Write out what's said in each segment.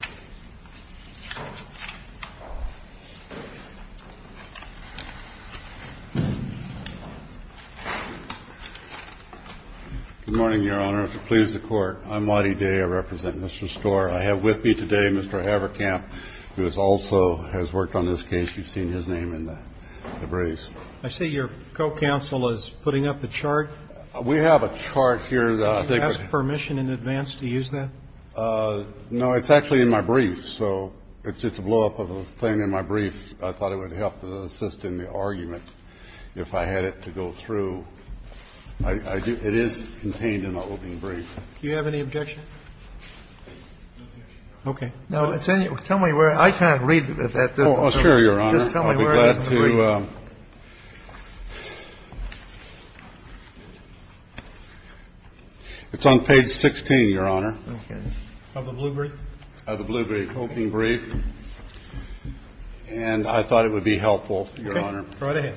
Good morning, Your Honor, if it pleases the Court, I'm Waddy Day. I represent Mr. Storrer. I have with me today Mr. Haverkamp, who also has worked on this case. You've seen his name in the briefs. I see your co-counsel is putting up the chart. We have a chart here. Do you ask permission in advance to use that? No, it's actually in my brief, so it's just a blow-up of the thing in my brief. I thought it would help to assist in the argument if I had it to go through. It is contained in the opening brief. Do you have any objection? No objection. Okay. Now, tell me where – I can't read at this point. Oh, sure, Your Honor. Just tell me where it is in the brief. It's on page 16, Your Honor. Okay. Of the blue brief? Of the blue brief, opening brief. And I thought it would be helpful, Your Honor. Okay. Go right ahead.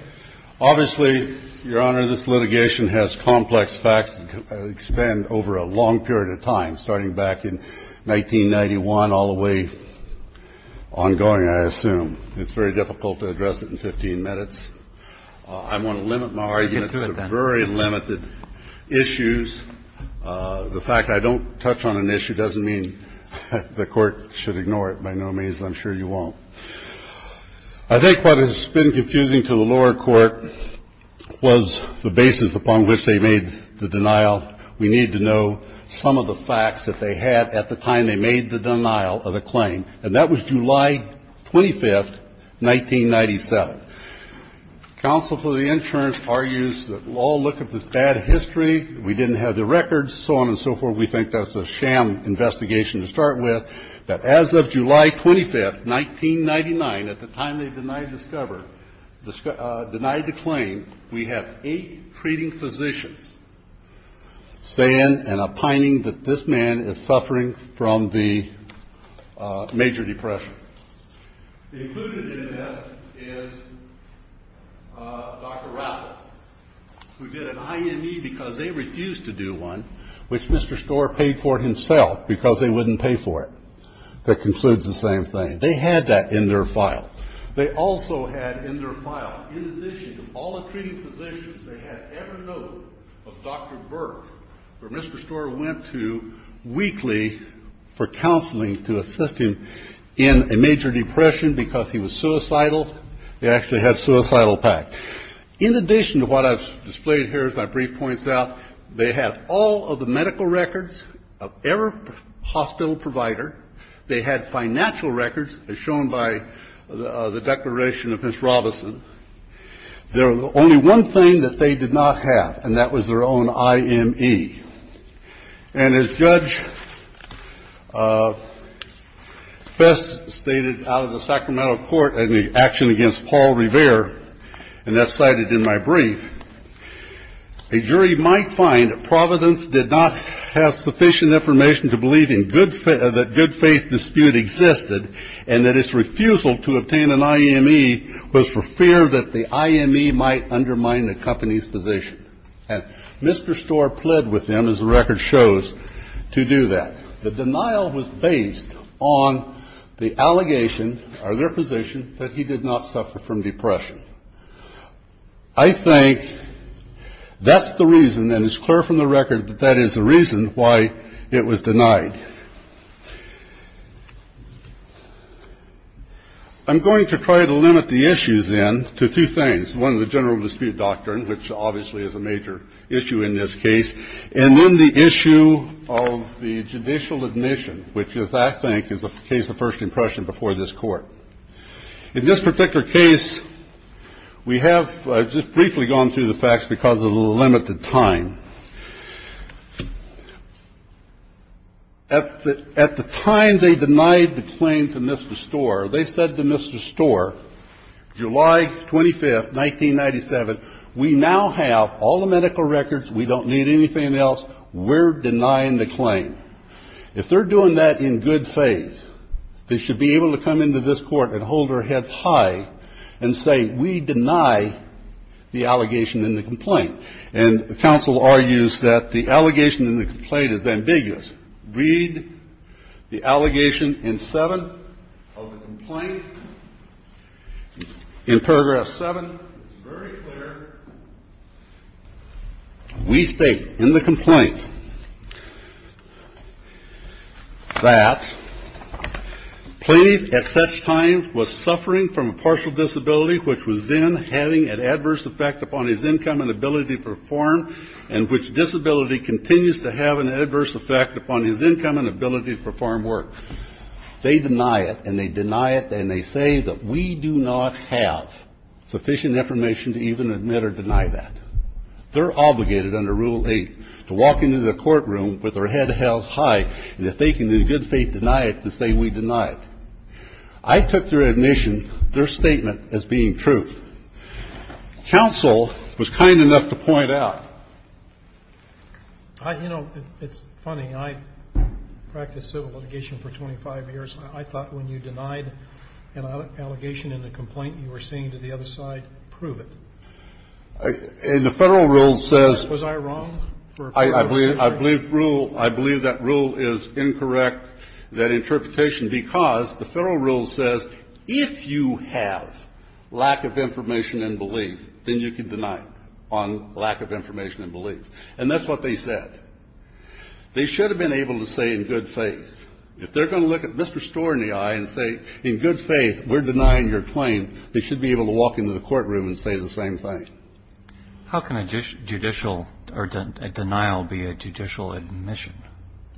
Obviously, Your Honor, this litigation has complex facts that expand over a long period of time, starting back in 1991 all the way ongoing, I assume. It's very difficult to address it in 15 minutes. I want to limit my arguments to very limited issues. The fact I don't touch on an issue doesn't mean the Court should ignore it by no means. I'm sure you won't. I think what has been confusing to the lower court was the basis upon which they made the denial. We need to know some of the facts that they had at the time they made the denial of the claim. And that was July 25th, 1997. Counsel for the insurance argues that we'll all look at this bad history. We didn't have the records, so on and so forth. We think that's a sham investigation to start with, that as of July 25th, 1999, at the time they denied the claim, we have eight treating physicians saying and opining that this man is suffering from the major depression. Included in this is Dr. Rappaport, who did an IME because they refused to do one, which Mr. Storer paid for himself because they wouldn't pay for it. That concludes the same thing. They had that in their file. They also had in their file, in addition to all the treating physicians, they had every note of Dr. Burke, who Mr. Storer went to weekly for counseling to assist him in a major depression because he was suicidal. They actually had suicidal pact. In addition to what I've displayed here as my brief points out, they have all of the medical records of every hospital provider. They had financial records, as shown by the declaration of Ms. Robinson. There was only one thing that they did not have, and that was their own IME. And as Judge Fess stated out of the Sacramento court in the action against Paul Rivera, and that's cited in my brief, a jury might find Providence did not have sufficient information to believe that good faith dispute existed and that its refusal to obtain an IME was for fear that the IME might undermine the company's position. And Mr. Storer pled with them, as the record shows, to do that. The denial was based on the allegation or their position that he did not suffer from depression. I think that's the reason, and it's clear from the record that that is the reason why it was denied. I'm going to try to limit the issues, then, to two things, one, the general dispute doctrine, which obviously is a major issue in this case, and then the issue of the judicial admission, which is, I think, is a case of first impression before this Court. In this particular case, we have just briefly gone through the facts because of the limited time. At the time they denied the claim to Mr. Storer, they said to Mr. Storer, July 25th, 1997, we now have all the medical records, we don't need anything else, we're denying the claim. If they're doing that in good faith, they should be able to come into this Court and hold their heads high and say we deny the allegation in the complaint. And counsel argues that the allegation in the complaint is ambiguous. Read the allegation in 7 of the complaint. In paragraph 7, it's very clear. We state in the complaint that Plaintiff at such time was suffering from a partial disability which was then having an adverse effect upon his income and ability to perform and which disability continues to have an adverse effect upon his income and ability to perform work. They deny it and they deny it and they say that we do not have sufficient information to even admit or deny that. They're obligated under Rule 8 to walk into the courtroom with their heads held high and if they can in good faith deny it, to say we deny it. I took their admission, their statement, as being truth. Counsel was kind enough to point out. I, you know, it's funny. I practiced civil litigation for 25 years. I thought when you denied an allegation in a complaint, you were saying to the other side, prove it. And the Federal rule says. Was I wrong? I believe, I believe rule, I believe that rule is incorrect, that interpretation, because the Federal rule says if you have lack of information and belief, then you can deny it on lack of information and belief. And that's what they said. They should have been able to say in good faith. If they're going to look at Mr. Storer in the eye and say in good faith we're denying your claim, they should be able to walk into the courtroom and say the same thing. How can a judicial or a denial be a judicial admission?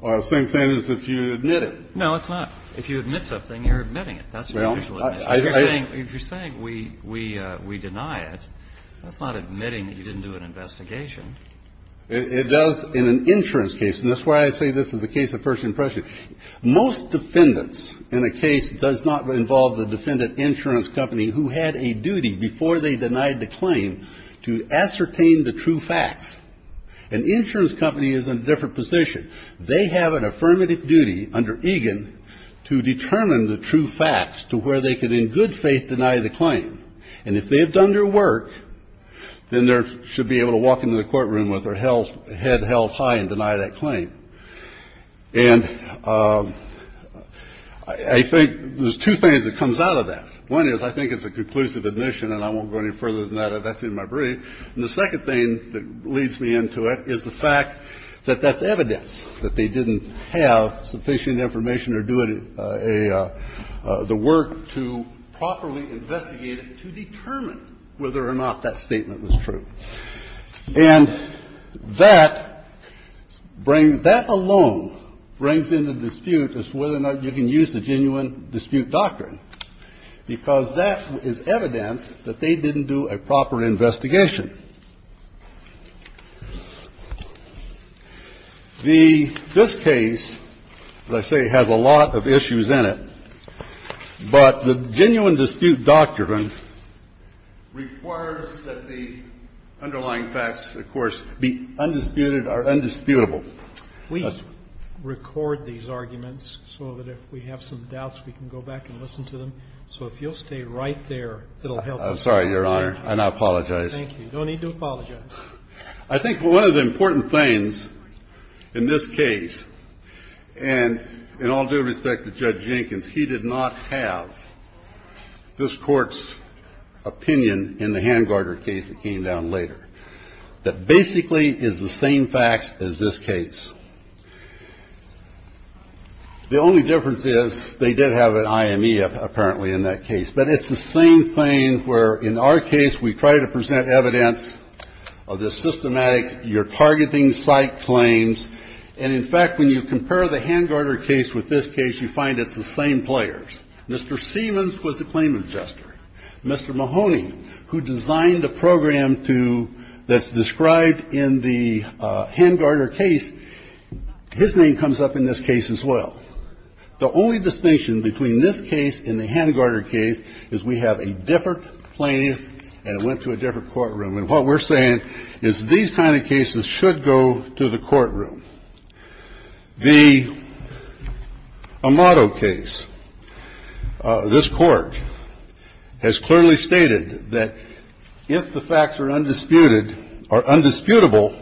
The same thing as if you admit it. No, it's not. If you admit something, you're admitting it. That's a judicial admission. If you're saying we deny it, that's not admitting that you didn't do an investigation. It does in an insurance case. And that's why I say this is a case of first impression. Most defendants in a case does not involve the defendant insurance company who had a duty before they denied the claim to ascertain the true facts. An insurance company is in a different position. They have an affirmative duty under EGAN to determine the true facts to where they can in good faith deny the claim. And if they have done their work, then they should be able to walk into the courtroom with their head held high and deny that claim. And I think there's two things that comes out of that. One is I think it's a conclusive admission, and I won't go any further than that if that's in my brief. And the second thing that leads me into it is the fact that that's evidence, that they didn't have sufficient information or do it a the work to properly investigate it to determine whether or not that statement was true. And that brings that alone brings into dispute as to whether or not you can use the genuine dispute doctrine, because that is evidence that they didn't do a proper investigation. The this case, as I say, has a lot of issues in it. But the genuine dispute doctrine requires that the underlying facts, of course, be undisputed or undisputable. We record these arguments so that if we have some doubts, we can go back and listen to them. So if you'll stay right there, it'll help us. I'm sorry, Your Honor, and I apologize. Thank you. You don't need to apologize. I think one of the important things in this case, and in all due respect to Judge Jenkins, he did not have this Court's opinion in the hand-guarded case that came down later that basically is the same facts as this case. The only difference is they did have an IME, apparently, in that case. But it's the same thing where, in our case, we try to present evidence of the systematic you're targeting site claims. And, in fact, when you compare the hand-guarded case with this case, you find it's the same players. Mr. Siemens was the claim adjuster. Mr. Mahoney, who designed a program to that's described in the hand-guarded case, his name comes up in this case as well. The only distinction between this case and the hand-guarded case is we have a different play and it went to a different courtroom. And what we're saying is these kind of cases should go to the courtroom. The Amado case, this Court has clearly stated that if the facts are undisputed or undisputable,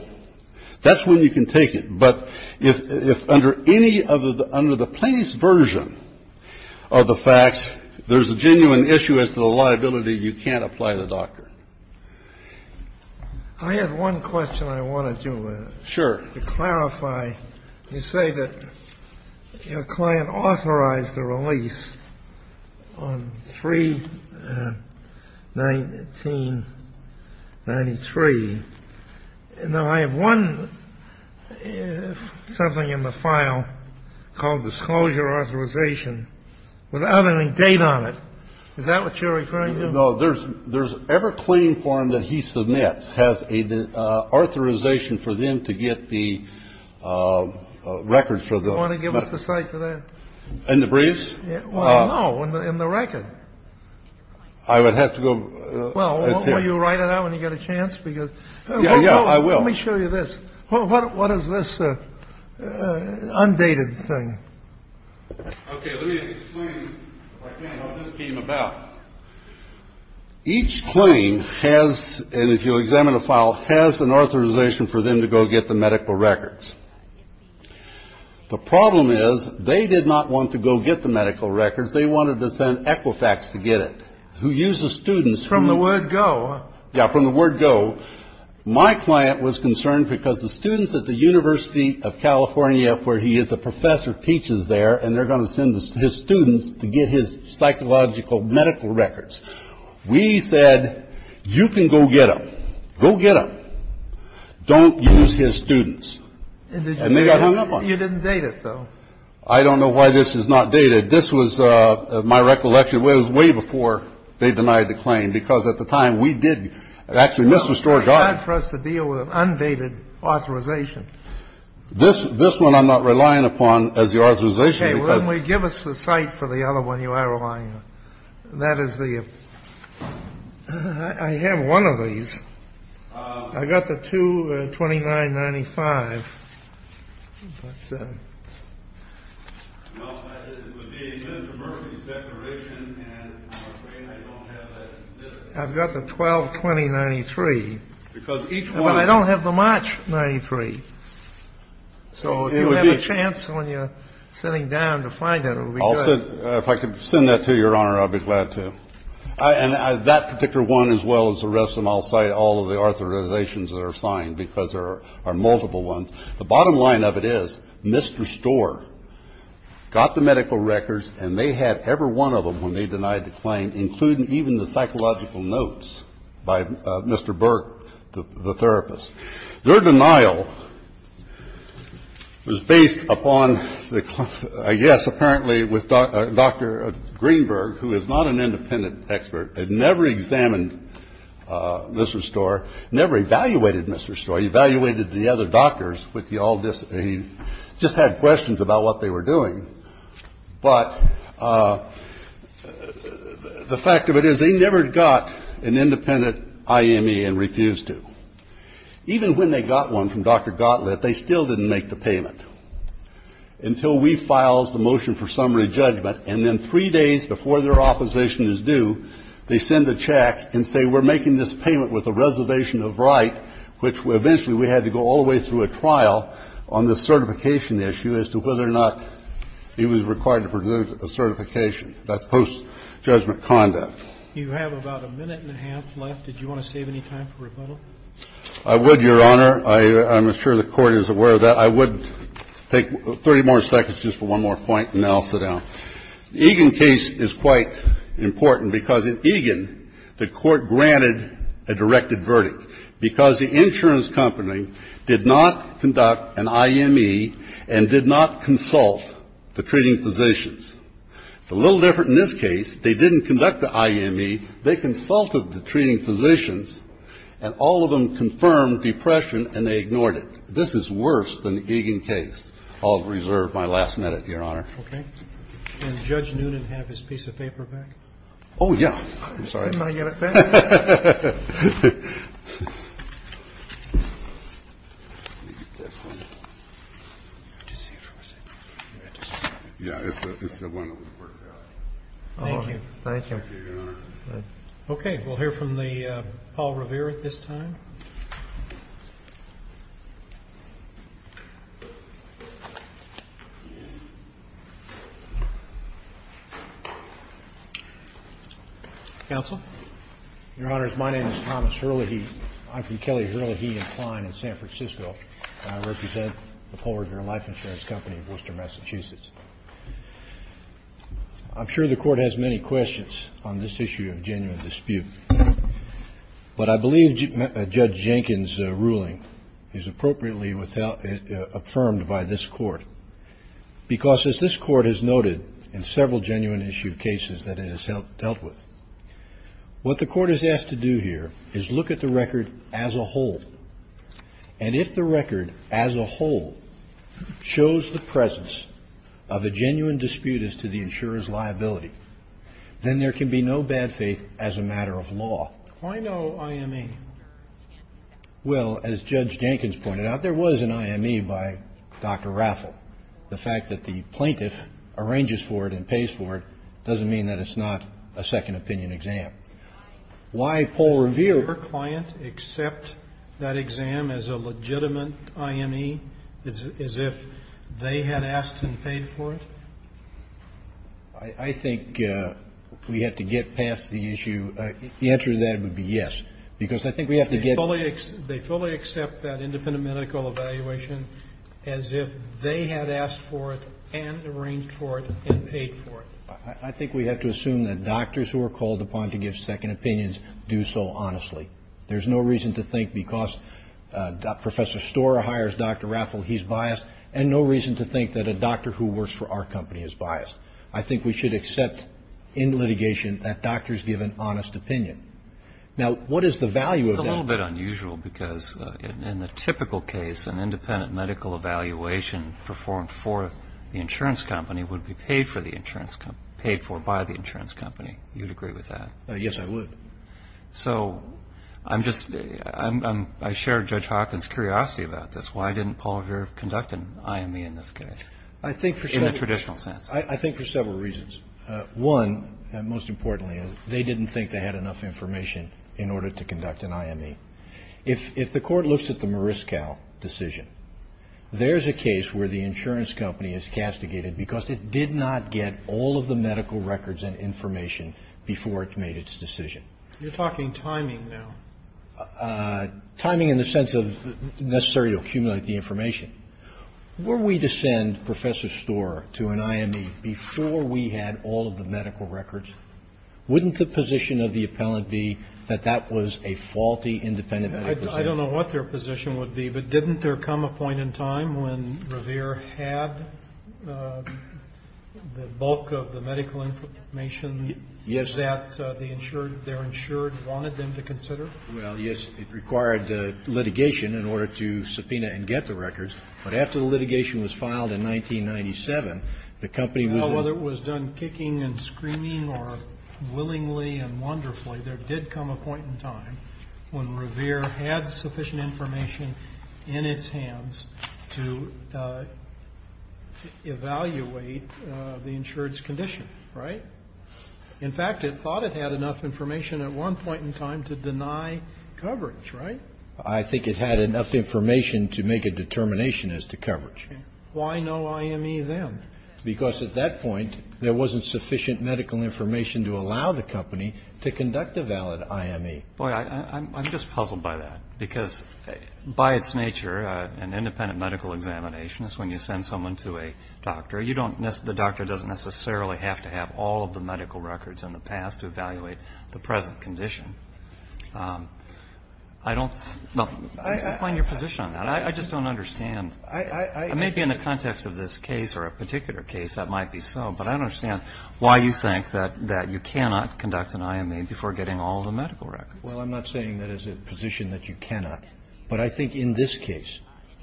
that's when you can take it. But if under any of the under-the-place version of the facts, there's a genuine issue as to the liability, you can't apply the doctrine. I have one question I wanted to clarify. Sure. You say that your client authorized the release on 3-19-93. Now, I have one something in the file called disclosure authorization without any date on it. Is that what you're referring to? No, there's every claim form that he submits has an authorization for them to get the records for the. Want to give us a cite for that? In the briefs? No, in the record. I would have to go. Well, will you write it out when you get a chance? Yeah, I will. Let me show you this. What is this undated thing? Okay, let me explain, if I can, how this came about. Each claim has, and if you'll examine the file, has an authorization for them to go get the medical records. The problem is they did not want to go get the medical records. They wanted to send Equifax to get it, who used the students. From the word go. Yeah, from the word go. So my client was concerned because the students at the University of California, where he is a professor, teaches there, and they're going to send his students to get his psychological medical records. We said, you can go get them. Go get them. Don't use his students. And they got hung up on it. You didn't date it, though. I don't know why this is not dated. This was my recollection. It was way before they denied the claim, because at the time, we did actually misrestore guard. It's hard for us to deal with an undated authorization. This one I'm not relying upon as the authorization. Okay, well, then give us the site for the other one you are relying on. That is the ‑‑ I have one of these. I got the 22995. What's that? Well, it would be a Minter-Murphy's declaration, and I'm afraid I don't have that. I've got the 122093. But I don't have the March 93. So if you have a chance when you're sitting down to find it, it would be good. If I could send that to you, Your Honor, I'd be glad to. Thank you. And that particular one, as well as the rest, and I'll cite all of the authorizations that are assigned, because there are multiple ones. The bottom line of it is misrestore got the medical records, and they had every one of them when they denied the claim, including even the psychological notes by Mr. Burke, the therapist. Their denial was based upon, I guess, apparently, with Dr. Greenberg, who is not an independent expert. They'd never examined misrestore, never evaluated misrestore. He evaluated the other doctors with the all this. He just had questions about what they were doing. But the fact of it is they never got an independent IME and refused to. Even when they got one from Dr. Gottlieb, they still didn't make the payment until we filed the motion for summary judgment. And then three days before their opposition is due, they send a check and say we're making this payment with a reservation of right, which eventually we had to go all the way through a trial on the certification issue as to whether or not he was required to produce a certification. That's post-judgment conduct. You have about a minute and a half left. Did you want to save any time for rebuttal? I would, Your Honor. I'm sure the Court is aware of that. I would take 30 more seconds just for one more point, and then I'll sit down. The Egan case is quite important because in Egan the Court granted a directed verdict because the insurance company did not conduct an IME and did not consult the treating physicians. It's a little different in this case. They didn't conduct the IME. They consulted the treating physicians, and all of them confirmed depression and they ignored it. This is worse than the Egan case. I'll reserve my last minute, Your Honor. Okay. Can Judge Noonan have his piece of paper back? Oh, yeah. I'm sorry. Didn't I get it back? Let me get this one. Yeah, it's the one that was worked out. Thank you. Thank you, Your Honor. Okay, we'll hear from Paul Revere at this time. Counsel? Your Honors, my name is Thomas Herlihy. I'm from Kelly Herlihy & Kline in San Francisco, and I represent the Paul Revere Life Insurance Company of Worcester, Massachusetts. I'm sure the Court has many questions on this issue of genuine dispute, but I believe Judge Jenkins' ruling is appropriately affirmed by this Court, because as this Court has noted in several genuine issue cases that it has dealt with, what the Court has asked to do here is look at the record as a whole. And if the record as a whole shows the presence of a genuine dispute as to the insurer's liability, then there can be no bad faith as a matter of law. Why no I.M.E.? Well, as Judge Jenkins pointed out, there was an I.M.E. by Dr. Raffel. The fact that the plaintiff arranges for it and pays for it doesn't mean that it's not a second opinion exam. Why did Paul Revere's client accept that exam as a legitimate I.M.E., as if they had asked and paid for it? I think we have to get past the issue. The answer to that would be yes. Because I think we have to get to the point. They fully accept that independent medical evaluation as if they had asked for it and arranged for it and paid for it. I think we have to assume that doctors who are called upon to give second opinions do so honestly. There's no reason to think because Professor Storer hires Dr. Raffel, he's biased, and no reason to think that a doctor who works for our company is biased. I think we should accept in litigation that doctors give an honest opinion. Now, what is the value of that? It's a little bit unusual because in the typical case, an independent medical evaluation performed for the insurance company would be paid for by the insurance company. You'd agree with that? Yes, I would. So I share Judge Hawkins' curiosity about this. Why didn't Paul Vera conduct an I.M.E. in this case in the traditional sense? I think for several reasons. One, most importantly, is they didn't think they had enough information in order to conduct an I.M.E. If the court looks at the Mariscal decision, there's a case where the insurance company is castigated because it did not get all of the medical records and information before it made its decision. You're talking timing now. Timing in the sense of necessary to accumulate the information. Were we to send Professor Storer to an I.M.E. before we had all of the medical records, wouldn't the position of the appellant be that that was a faulty independent medical decision? Well, I don't know what their position would be, but didn't there come a point in time when Revere had the bulk of the medical information that the insured, their insured, wanted them to consider? Well, yes. It required litigation in order to subpoena and get the records. But after the litigation was filed in 1997, the company was Whether it was done kicking and screaming or willingly and wonderfully, there did come a point in time when Revere had sufficient information in its hands to evaluate the insured's condition, right? In fact, it thought it had enough information at one point in time to deny coverage, right? I think it had enough information to make a determination as to coverage. Why no I.M.E. then? Because at that point, there wasn't sufficient medical information to allow the company to conduct a valid I.M.E. Boy, I'm just puzzled by that. Because by its nature, an independent medical examination is when you send someone to a doctor. You don't, the doctor doesn't necessarily have to have all of the medical records in the past to evaluate the present condition. I don't, well, define your position on that. I just don't understand. I may be in the context of this case or a particular case, that might be so, but I don't understand why you think that you cannot conduct an I.M.E. before getting all of the medical records. Well, I'm not saying that it's a position that you cannot. But I think in this case,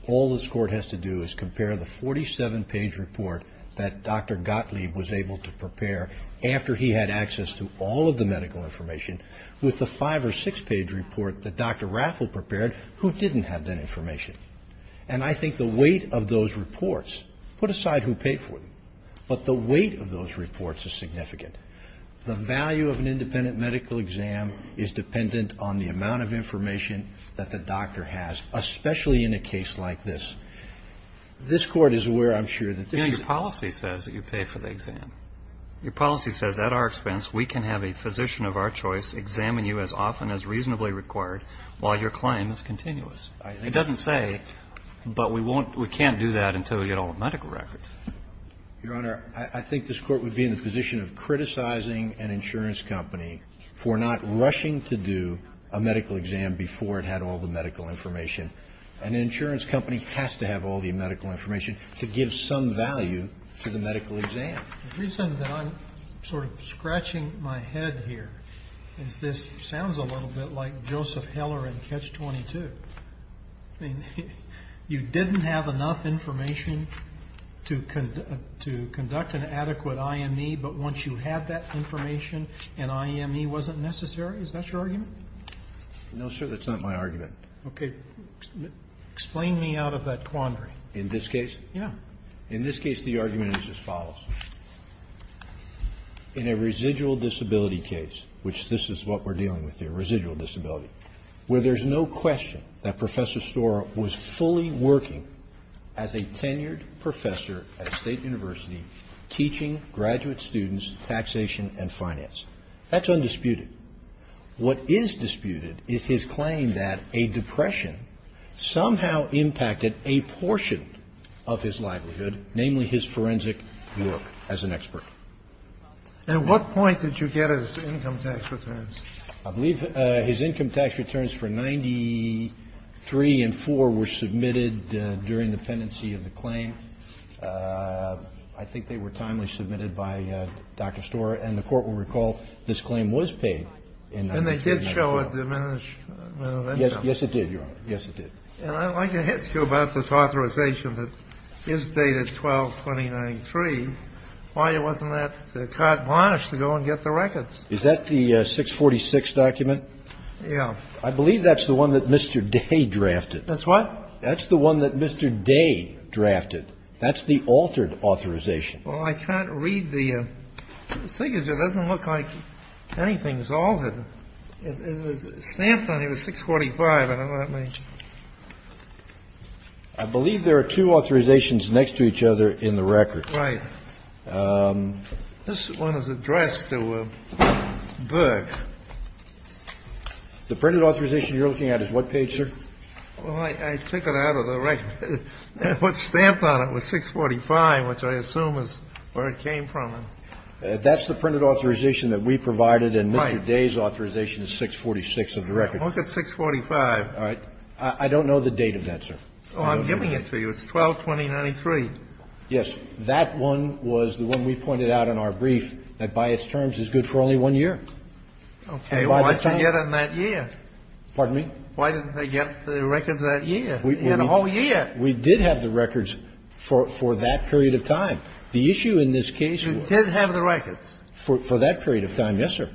all this Court has to do is compare the 47-page report that Dr. Gottlieb was able to prepare after he had access to all of the medical information with the five- or six-page report that Dr. Raffel prepared who didn't have that information. And I think the weight of those reports, put aside who paid for them, but the weight of those reports is significant. The value of an independent medical exam is dependent on the amount of information that the doctor has, especially in a case like this. This Court is aware, I'm sure, that this is the case. Your policy says that you pay for the exam. Your policy says at our expense, we can have a physician of our choice examine you as often as reasonably required while your claim is continuous. It doesn't say, but we won't, we can't do that until we get all the medical records. Your Honor, I think this Court would be in a position of criticizing an insurance company for not rushing to do a medical exam before it had all the medical information. An insurance company has to have all the medical information to give some value to the medical exam. The reason that I'm sort of scratching my head here is this sounds a little bit like Joseph Heller in Catch-22. I mean, you didn't have enough information to conduct an adequate IME, but once you had that information, an IME wasn't necessary? Is that your argument? No, sir, that's not my argument. Okay. Explain me out of that quandary. In this case? Yeah. In this case, the argument is as follows. In a residual disability case, which this is what we're dealing with here, where there's no question that Professor Storer was fully working as a tenured professor at a state university teaching graduate students taxation and finance. That's undisputed. What is disputed is his claim that a depression somehow impacted a portion of his livelihood, namely his forensic work as an expert. At what point did you get his income tax returns? I believe his income tax returns for 93 and 4 were submitted during the pendency of the claim. I think they were timely submitted by Dr. Storer, and the Court will recall this claim was paid in 1993. And they did show a diminished amount of income. Yes, it did, Your Honor. Yes, it did. And I'd like to ask you about this authorization that is dated 12-2093. Why wasn't that card banished to go and get the records? Is that the 646 document? Yeah. I believe that's the one that Mr. Day drafted. That's what? That's the one that Mr. Day drafted. That's the altered authorization. Well, I can't read the signature. It doesn't look like anything is altered. It was stamped on it. It was 645. I don't know what that means. I believe there are two authorizations next to each other in the record. Right. This one is addressed to Burke. The printed authorization you're looking at is what page, sir? Well, I took it out of the record. What's stamped on it was 645, which I assume is where it came from. That's the printed authorization that we provided, and Mr. Day's authorization is 646 of the record. Look at 645. All right. I don't know the date of that, sir. Oh, I'm giving it to you. It's 12-2093. Yes. That one was the one we pointed out in our brief that by its terms is good for only one year. Okay. Why didn't they get it in that year? Pardon me? Why didn't they get the records that year? They had a whole year. We did have the records for that period of time. The issue in this case was You did have the records? For that period of time, yes, sir.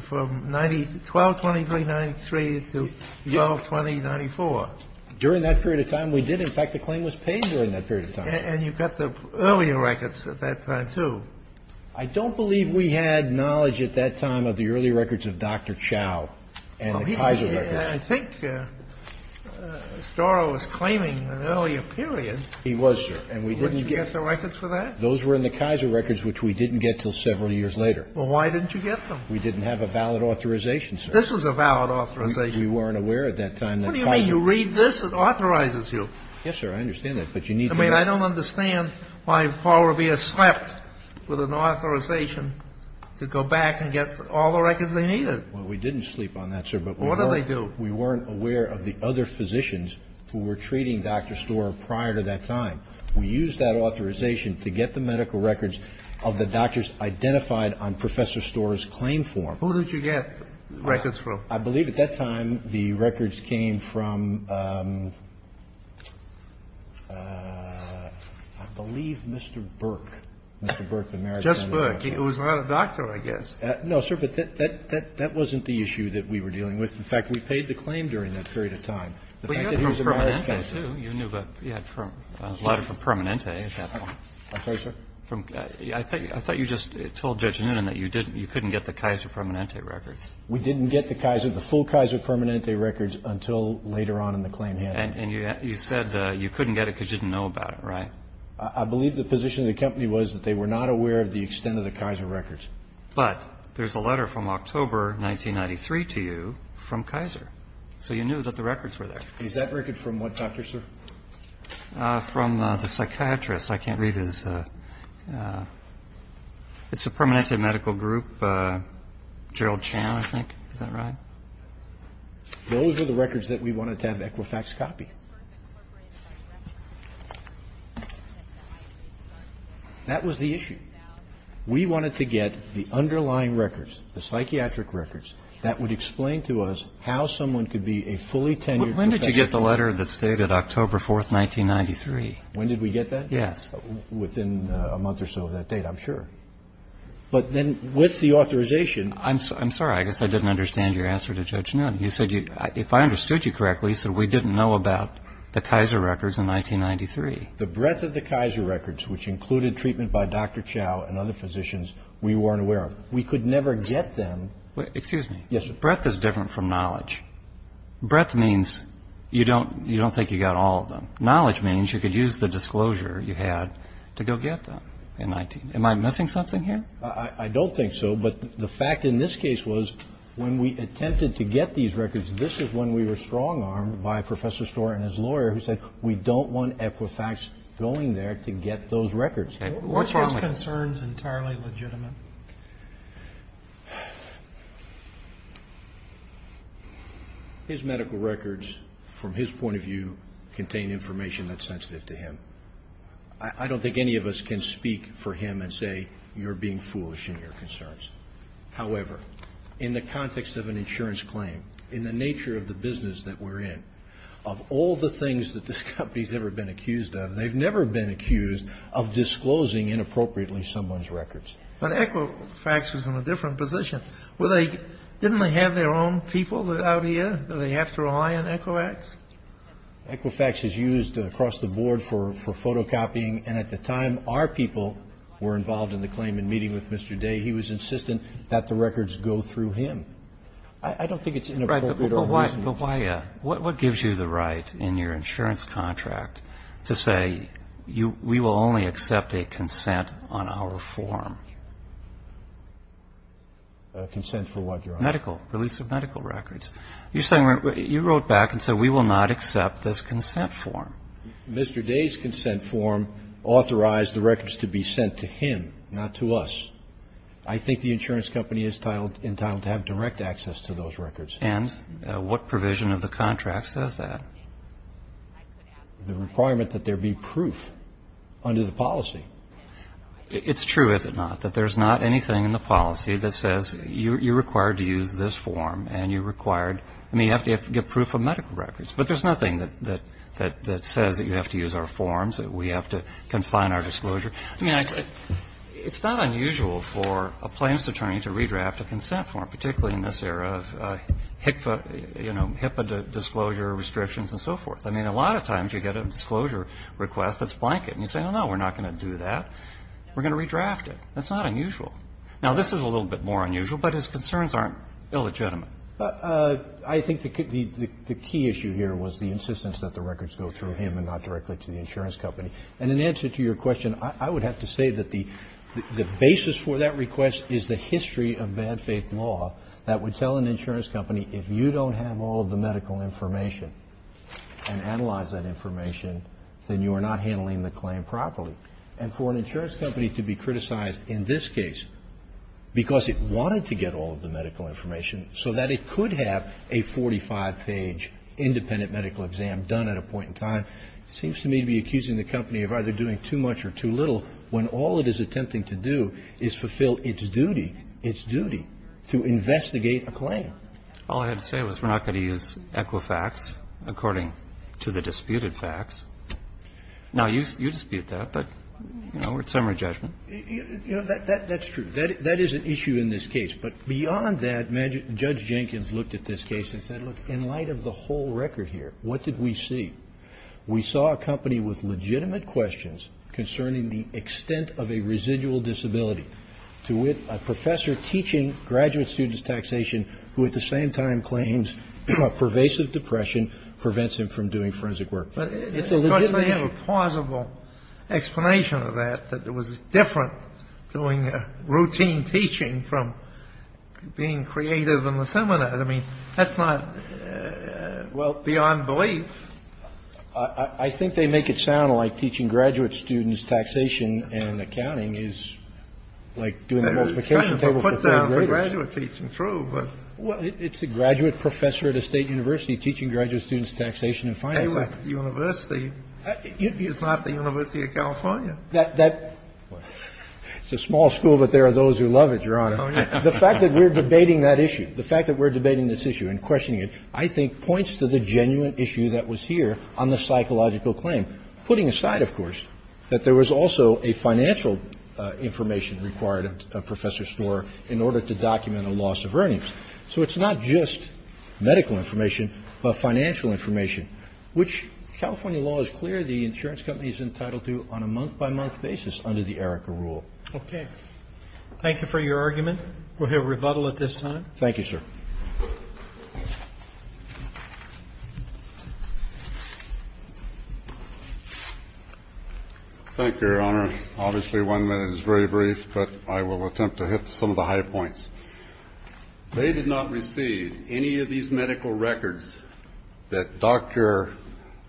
From 12-2393 to 12-2094. During that period of time, we did. In fact, the claim was paid during that period of time. And you got the earlier records at that time, too. I don't believe we had knowledge at that time of the early records of Dr. Chao and the Kaiser records. I think Storrow was claiming an earlier period. He was, sir. And we didn't get the records for that? Those were in the Kaiser records, which we didn't get until several years later. Well, why didn't you get them? We didn't have a valid authorization, sir. This was a valid authorization. We weren't aware at that time that Kaiser. I mean, you read this, it authorizes you. Yes, sir. I understand that, but you need to. I mean, I don't understand why Paul Revere slept with an authorization to go back and get all the records they needed. Well, we didn't sleep on that, sir, but we weren't. What did they do? We weren't aware of the other physicians who were treating Dr. Storrow prior to that time. We used that authorization to get the medical records of the doctors identified on Professor Storrow's claim form. Who did you get records from? I believe at that time the records came from, I believe, Mr. Burke. Mr. Burke, the Maritime. Judge Burke. It was not a doctor, I guess. No, sir. But that wasn't the issue that we were dealing with. In fact, we paid the claim during that period of time. The fact that he was a Maritime. But you had from Permanente, too. You knew that you had a lot from Permanente at that time. I'm sorry, sir? I thought you just told Judge Noonan that you couldn't get the Kaiser Permanente records. We didn't get the full Kaiser Permanente records until later on in the claim handling. And you said you couldn't get it because you didn't know about it, right? I believe the position of the company was that they were not aware of the extent of the Kaiser records. But there's a letter from October 1993 to you from Kaiser. So you knew that the records were there. Is that record from what doctor, sir? From the psychiatrist. I can't read his. It's a Permanente medical group, Gerald Chan, I think. Is that right? Those were the records that we wanted to have Equifax copy. That was the issue. We wanted to get the underlying records, the psychiatric records, that would explain to us how someone could be a fully tenured professional. When did you get the letter that stated October 4, 1993? When did we get that? Yes. Within a month or so of that date, I'm sure. But then with the authorization. I'm sorry. I guess I didn't understand your answer to Judge Noon. You said, if I understood you correctly, you said we didn't know about the Kaiser records in 1993. The breadth of the Kaiser records, which included treatment by Dr. Chow and other physicians, we weren't aware of. We could never get them. Excuse me. Yes, sir. Breadth is different from knowledge. Breadth means you don't think you got all of them. Knowledge means you could use the disclosure you had to go get them in 19. Am I missing something here? I don't think so. But the fact in this case was when we attempted to get these records, this is when we were strong-armed by Professor Storer and his lawyer who said we don't want Equifax going there to get those records. Okay. What's wrong with that? Weren't his concerns entirely legitimate? His medical records, from his point of view, contain information that's sensitive to him. I don't think any of us can speak for him and say you're being foolish in your concerns. However, in the context of an insurance claim, in the nature of the business that we're in, of all the things that this company has ever been accused of, they've never been accused of disclosing inappropriately someone's records. But Equifax was in a different position. Didn't they have their own people out here that they have to rely on Equifax? Equifax is used across the board for photocopying, and at the time our people were involved in the claim in meeting with Mr. Day, he was insistent that the records go through him. I don't think it's inappropriate or reasonable. But what gives you the right in your insurance contract to say we will only accept a consent on our form? Consent for what, Your Honor? Medical. Release of medical records. You're saying you wrote back and said we will not accept this consent form. Mr. Day's consent form authorized the records to be sent to him, not to us. I think the insurance company is entitled to have direct access to those records. And what provision of the contract says that? The requirement that there be proof under the policy. It's true, is it not, that there's not anything in the policy that says you're required to use this form and you have to get proof of medical records. But there's nothing that says that you have to use our forms, that we have to confine our disclosure. I mean, it's not unusual for a plaintiff's attorney to redraft a consent form, particularly in this era of HIPAA disclosure restrictions and so forth. I mean, a lot of times you get a disclosure request that's blanket, and you say, oh, no, we're not going to do that. We're going to redraft it. That's not unusual. Now, this is a little bit more unusual, but his concerns aren't illegitimate. I think the key issue here was the insistence that the records go through him and not directly to the insurance company. And in answer to your question, I would have to say that the basis for that request is the history of bad faith law that would tell an insurance company if you don't have all of the medical information and analyze that information, then you are not handling the claim properly. And for an insurance company to be criticized in this case because it wanted to get all of the medical information so that it could have a 45-page independent medical exam done at a point in time seems to me to be accusing the company of either doing too much or too little when all it is attempting to do is fulfill its duty, its duty to investigate a claim. All I had to say was we're not going to use Equifax according to the disputed facts. Now, you dispute that, but, you know, we're at summary judgment. You know, that's true. That is an issue in this case. But beyond that, Judge Jenkins looked at this case and said, look, in light of the whole record here, what did we see? We saw a company with legitimate questions concerning the extent of a residual disability to wit a professor teaching graduate students taxation who at the same time claims a pervasive depression prevents him from doing forensic work. It's a legitimate question. Kennedy. But they have a plausible explanation of that, that it was different doing routine teaching from being creative in the seminars. I mean, that's not beyond belief. I think they make it sound like teaching graduate students taxation and accounting is like doing the multiplication table for third graders. It's kind of a put-down for graduate teaching, true, but. Well, it's a graduate professor at a State university teaching graduate students taxation and financing. Anyway, the university is not the University of California. That's a small school, but there are those who love it, Your Honor. Oh, yeah. The fact that we're debating that issue, the fact that we're debating this issue and questioning it, I think points to the genuine issue that was here on the psychological claim. Putting aside, of course, that there was also a financial information required of Professor Storer in order to document a loss of earnings. So it's not just medical information, but financial information, which California law is clear the insurance company is entitled to on a month-by-month basis under the ERICA rule. Okay. Thank you for your argument. We'll hear rebuttal at this time. Thank you, sir. Thank you, Your Honor. Obviously, one minute is very brief, but I will attempt to hit some of the high points. They did not receive any of these medical records that Dr.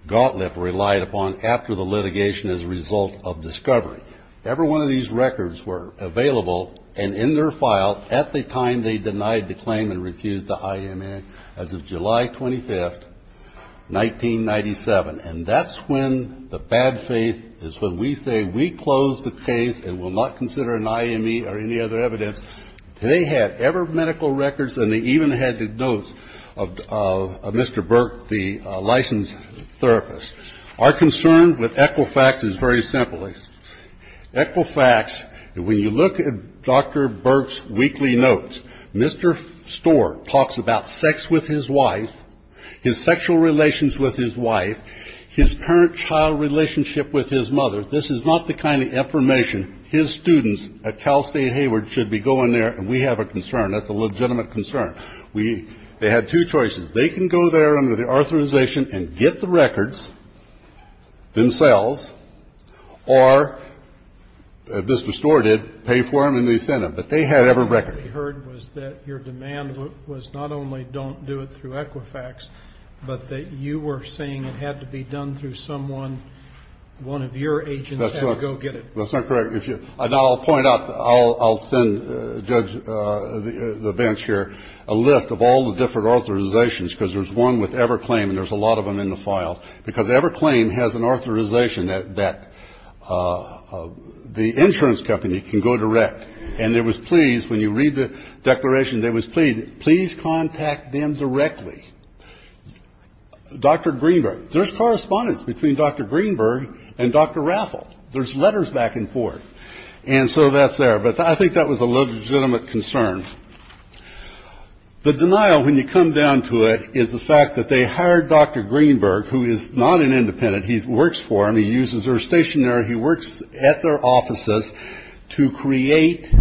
Gottlieb relied upon after the litigation as a result of discovery. Every one of these records were available and in their file at the time they denied the claim and refused the IME as of July 25, 1997. And that's when the bad faith is when we say we close the case and will not consider an IME or any other evidence. They had ever medical records and they even had the notes of Mr. Burke, the licensed therapist. Our concern with Equifax is very simple. Equifax, when you look at Dr. Burke's weekly notes, Mr. Storr talks about sex with his wife, his sexual relations with his wife, his parent-child relationship with his mother. This is not the kind of information his students at Cal State Hayward should be going there and we have a concern. That's a legitimate concern. They had two choices. They can go there under the authorization and get the records themselves or, as Mr. Storr did, pay for them and they send them. But they had every record. The record they heard was that your demand was not only don't do it through Equifax, but that you were saying it had to be done through someone, one of your agents had to go get it. That's not correct. Now, I'll point out, I'll send Judge, the bench here, a list of all the different authorizations, because there's one with Everclaim and there's a lot of them in the file, because Everclaim has an authorization that the insurance company can go direct and they was pleased, when you read the declaration, they was pleased, please contact them directly. Dr. Greenberg, there's correspondence between Dr. Greenberg and Dr. Raffel. There's letters back and forth. And so that's there. But I think that was a legitimate concern. The denial, when you come down to it, is the fact that they hired Dr. Greenberg, who is not an independent. He works for them. He uses their stationery. He works at their offices to create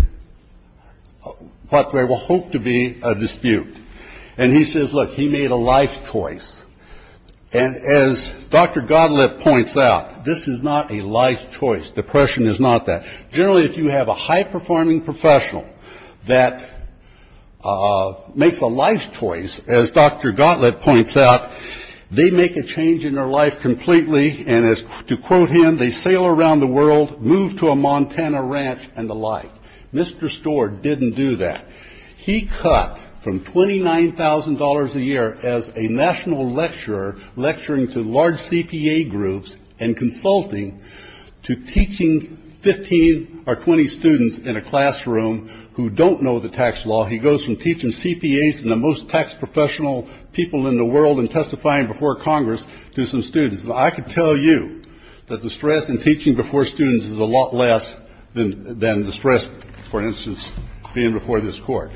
what they will hope to be a dispute. And he says, look, he made a life choice. And as Dr. Gottlieb points out, this is not a life choice. Depression is not that. Generally, if you have a high-performing professional that makes a life choice, as Dr. Gottlieb points out, they make a change in their life completely. And as to quote him, they sail around the world, move to a Montana ranch and the like. Mr. Storr didn't do that. He cut from $29,000 a year as a national lecturer, lecturing to large CPA groups and consulting to teaching 15 or 20 students in a classroom who don't know the tax law. He goes from teaching CPAs and the most tax professional people in the world and testifying before Congress to some students. And I can tell you that the stress in teaching before students is a lot less than the stress, for instance, being before this Court.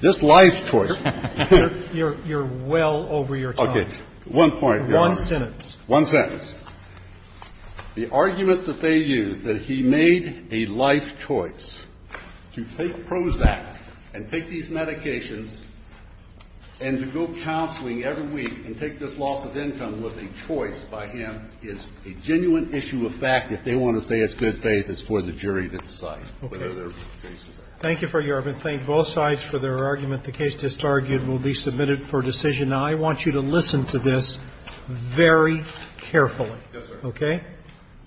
This life choice. Roberts. You're well over your time. One point. One sentence. One sentence. The argument that they use, that he made a life choice to take Prozac and take these medications and to go counseling every week and take this loss of income was a choice by him is a genuine issue of fact. If they want to say it's good faith, it's for the jury to decide. Okay. Thank you for your argument. Thank both sides for their argument. The case just argued will be submitted for decision. Now, I want you to listen to this very carefully. Yes, sir. Okay?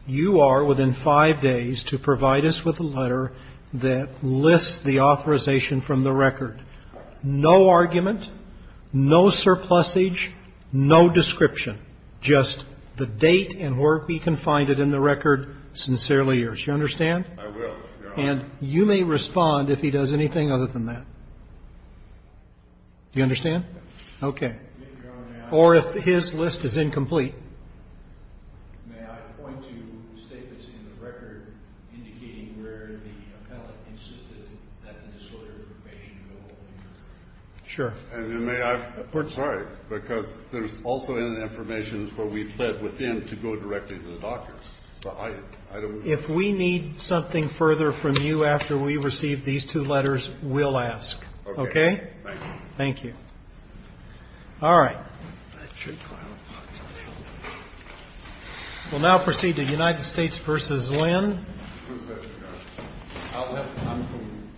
You are within five days to provide us with a letter that lists the authorization from the record. No argument, no surplusage, no description, just the date and where we can find it in the record sincerely yours. You understand? I will, Your Honor. And you may respond if he does anything other than that. Do you understand? Yes. Okay. Or if his list is incomplete. May I point to statements in the record indicating where the appellate insisted that the disorder information go? Sure. And may I? I'm sorry, because there's also in the information where we pled with him to go directly to the doctors. If we need something further from you after we receive these two letters, we'll ask. Okay? Thank you. Thank you. All right. We'll now proceed to United States v. Lynn. I'm from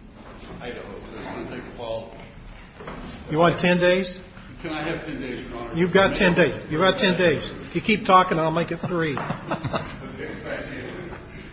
Idaho, so it's going to take a while. You want 10 days? Can I have 10 days, Your Honor? You've got 10 days. You've got 10 days. If you keep talking, I'll make it three. Okay. Thank you.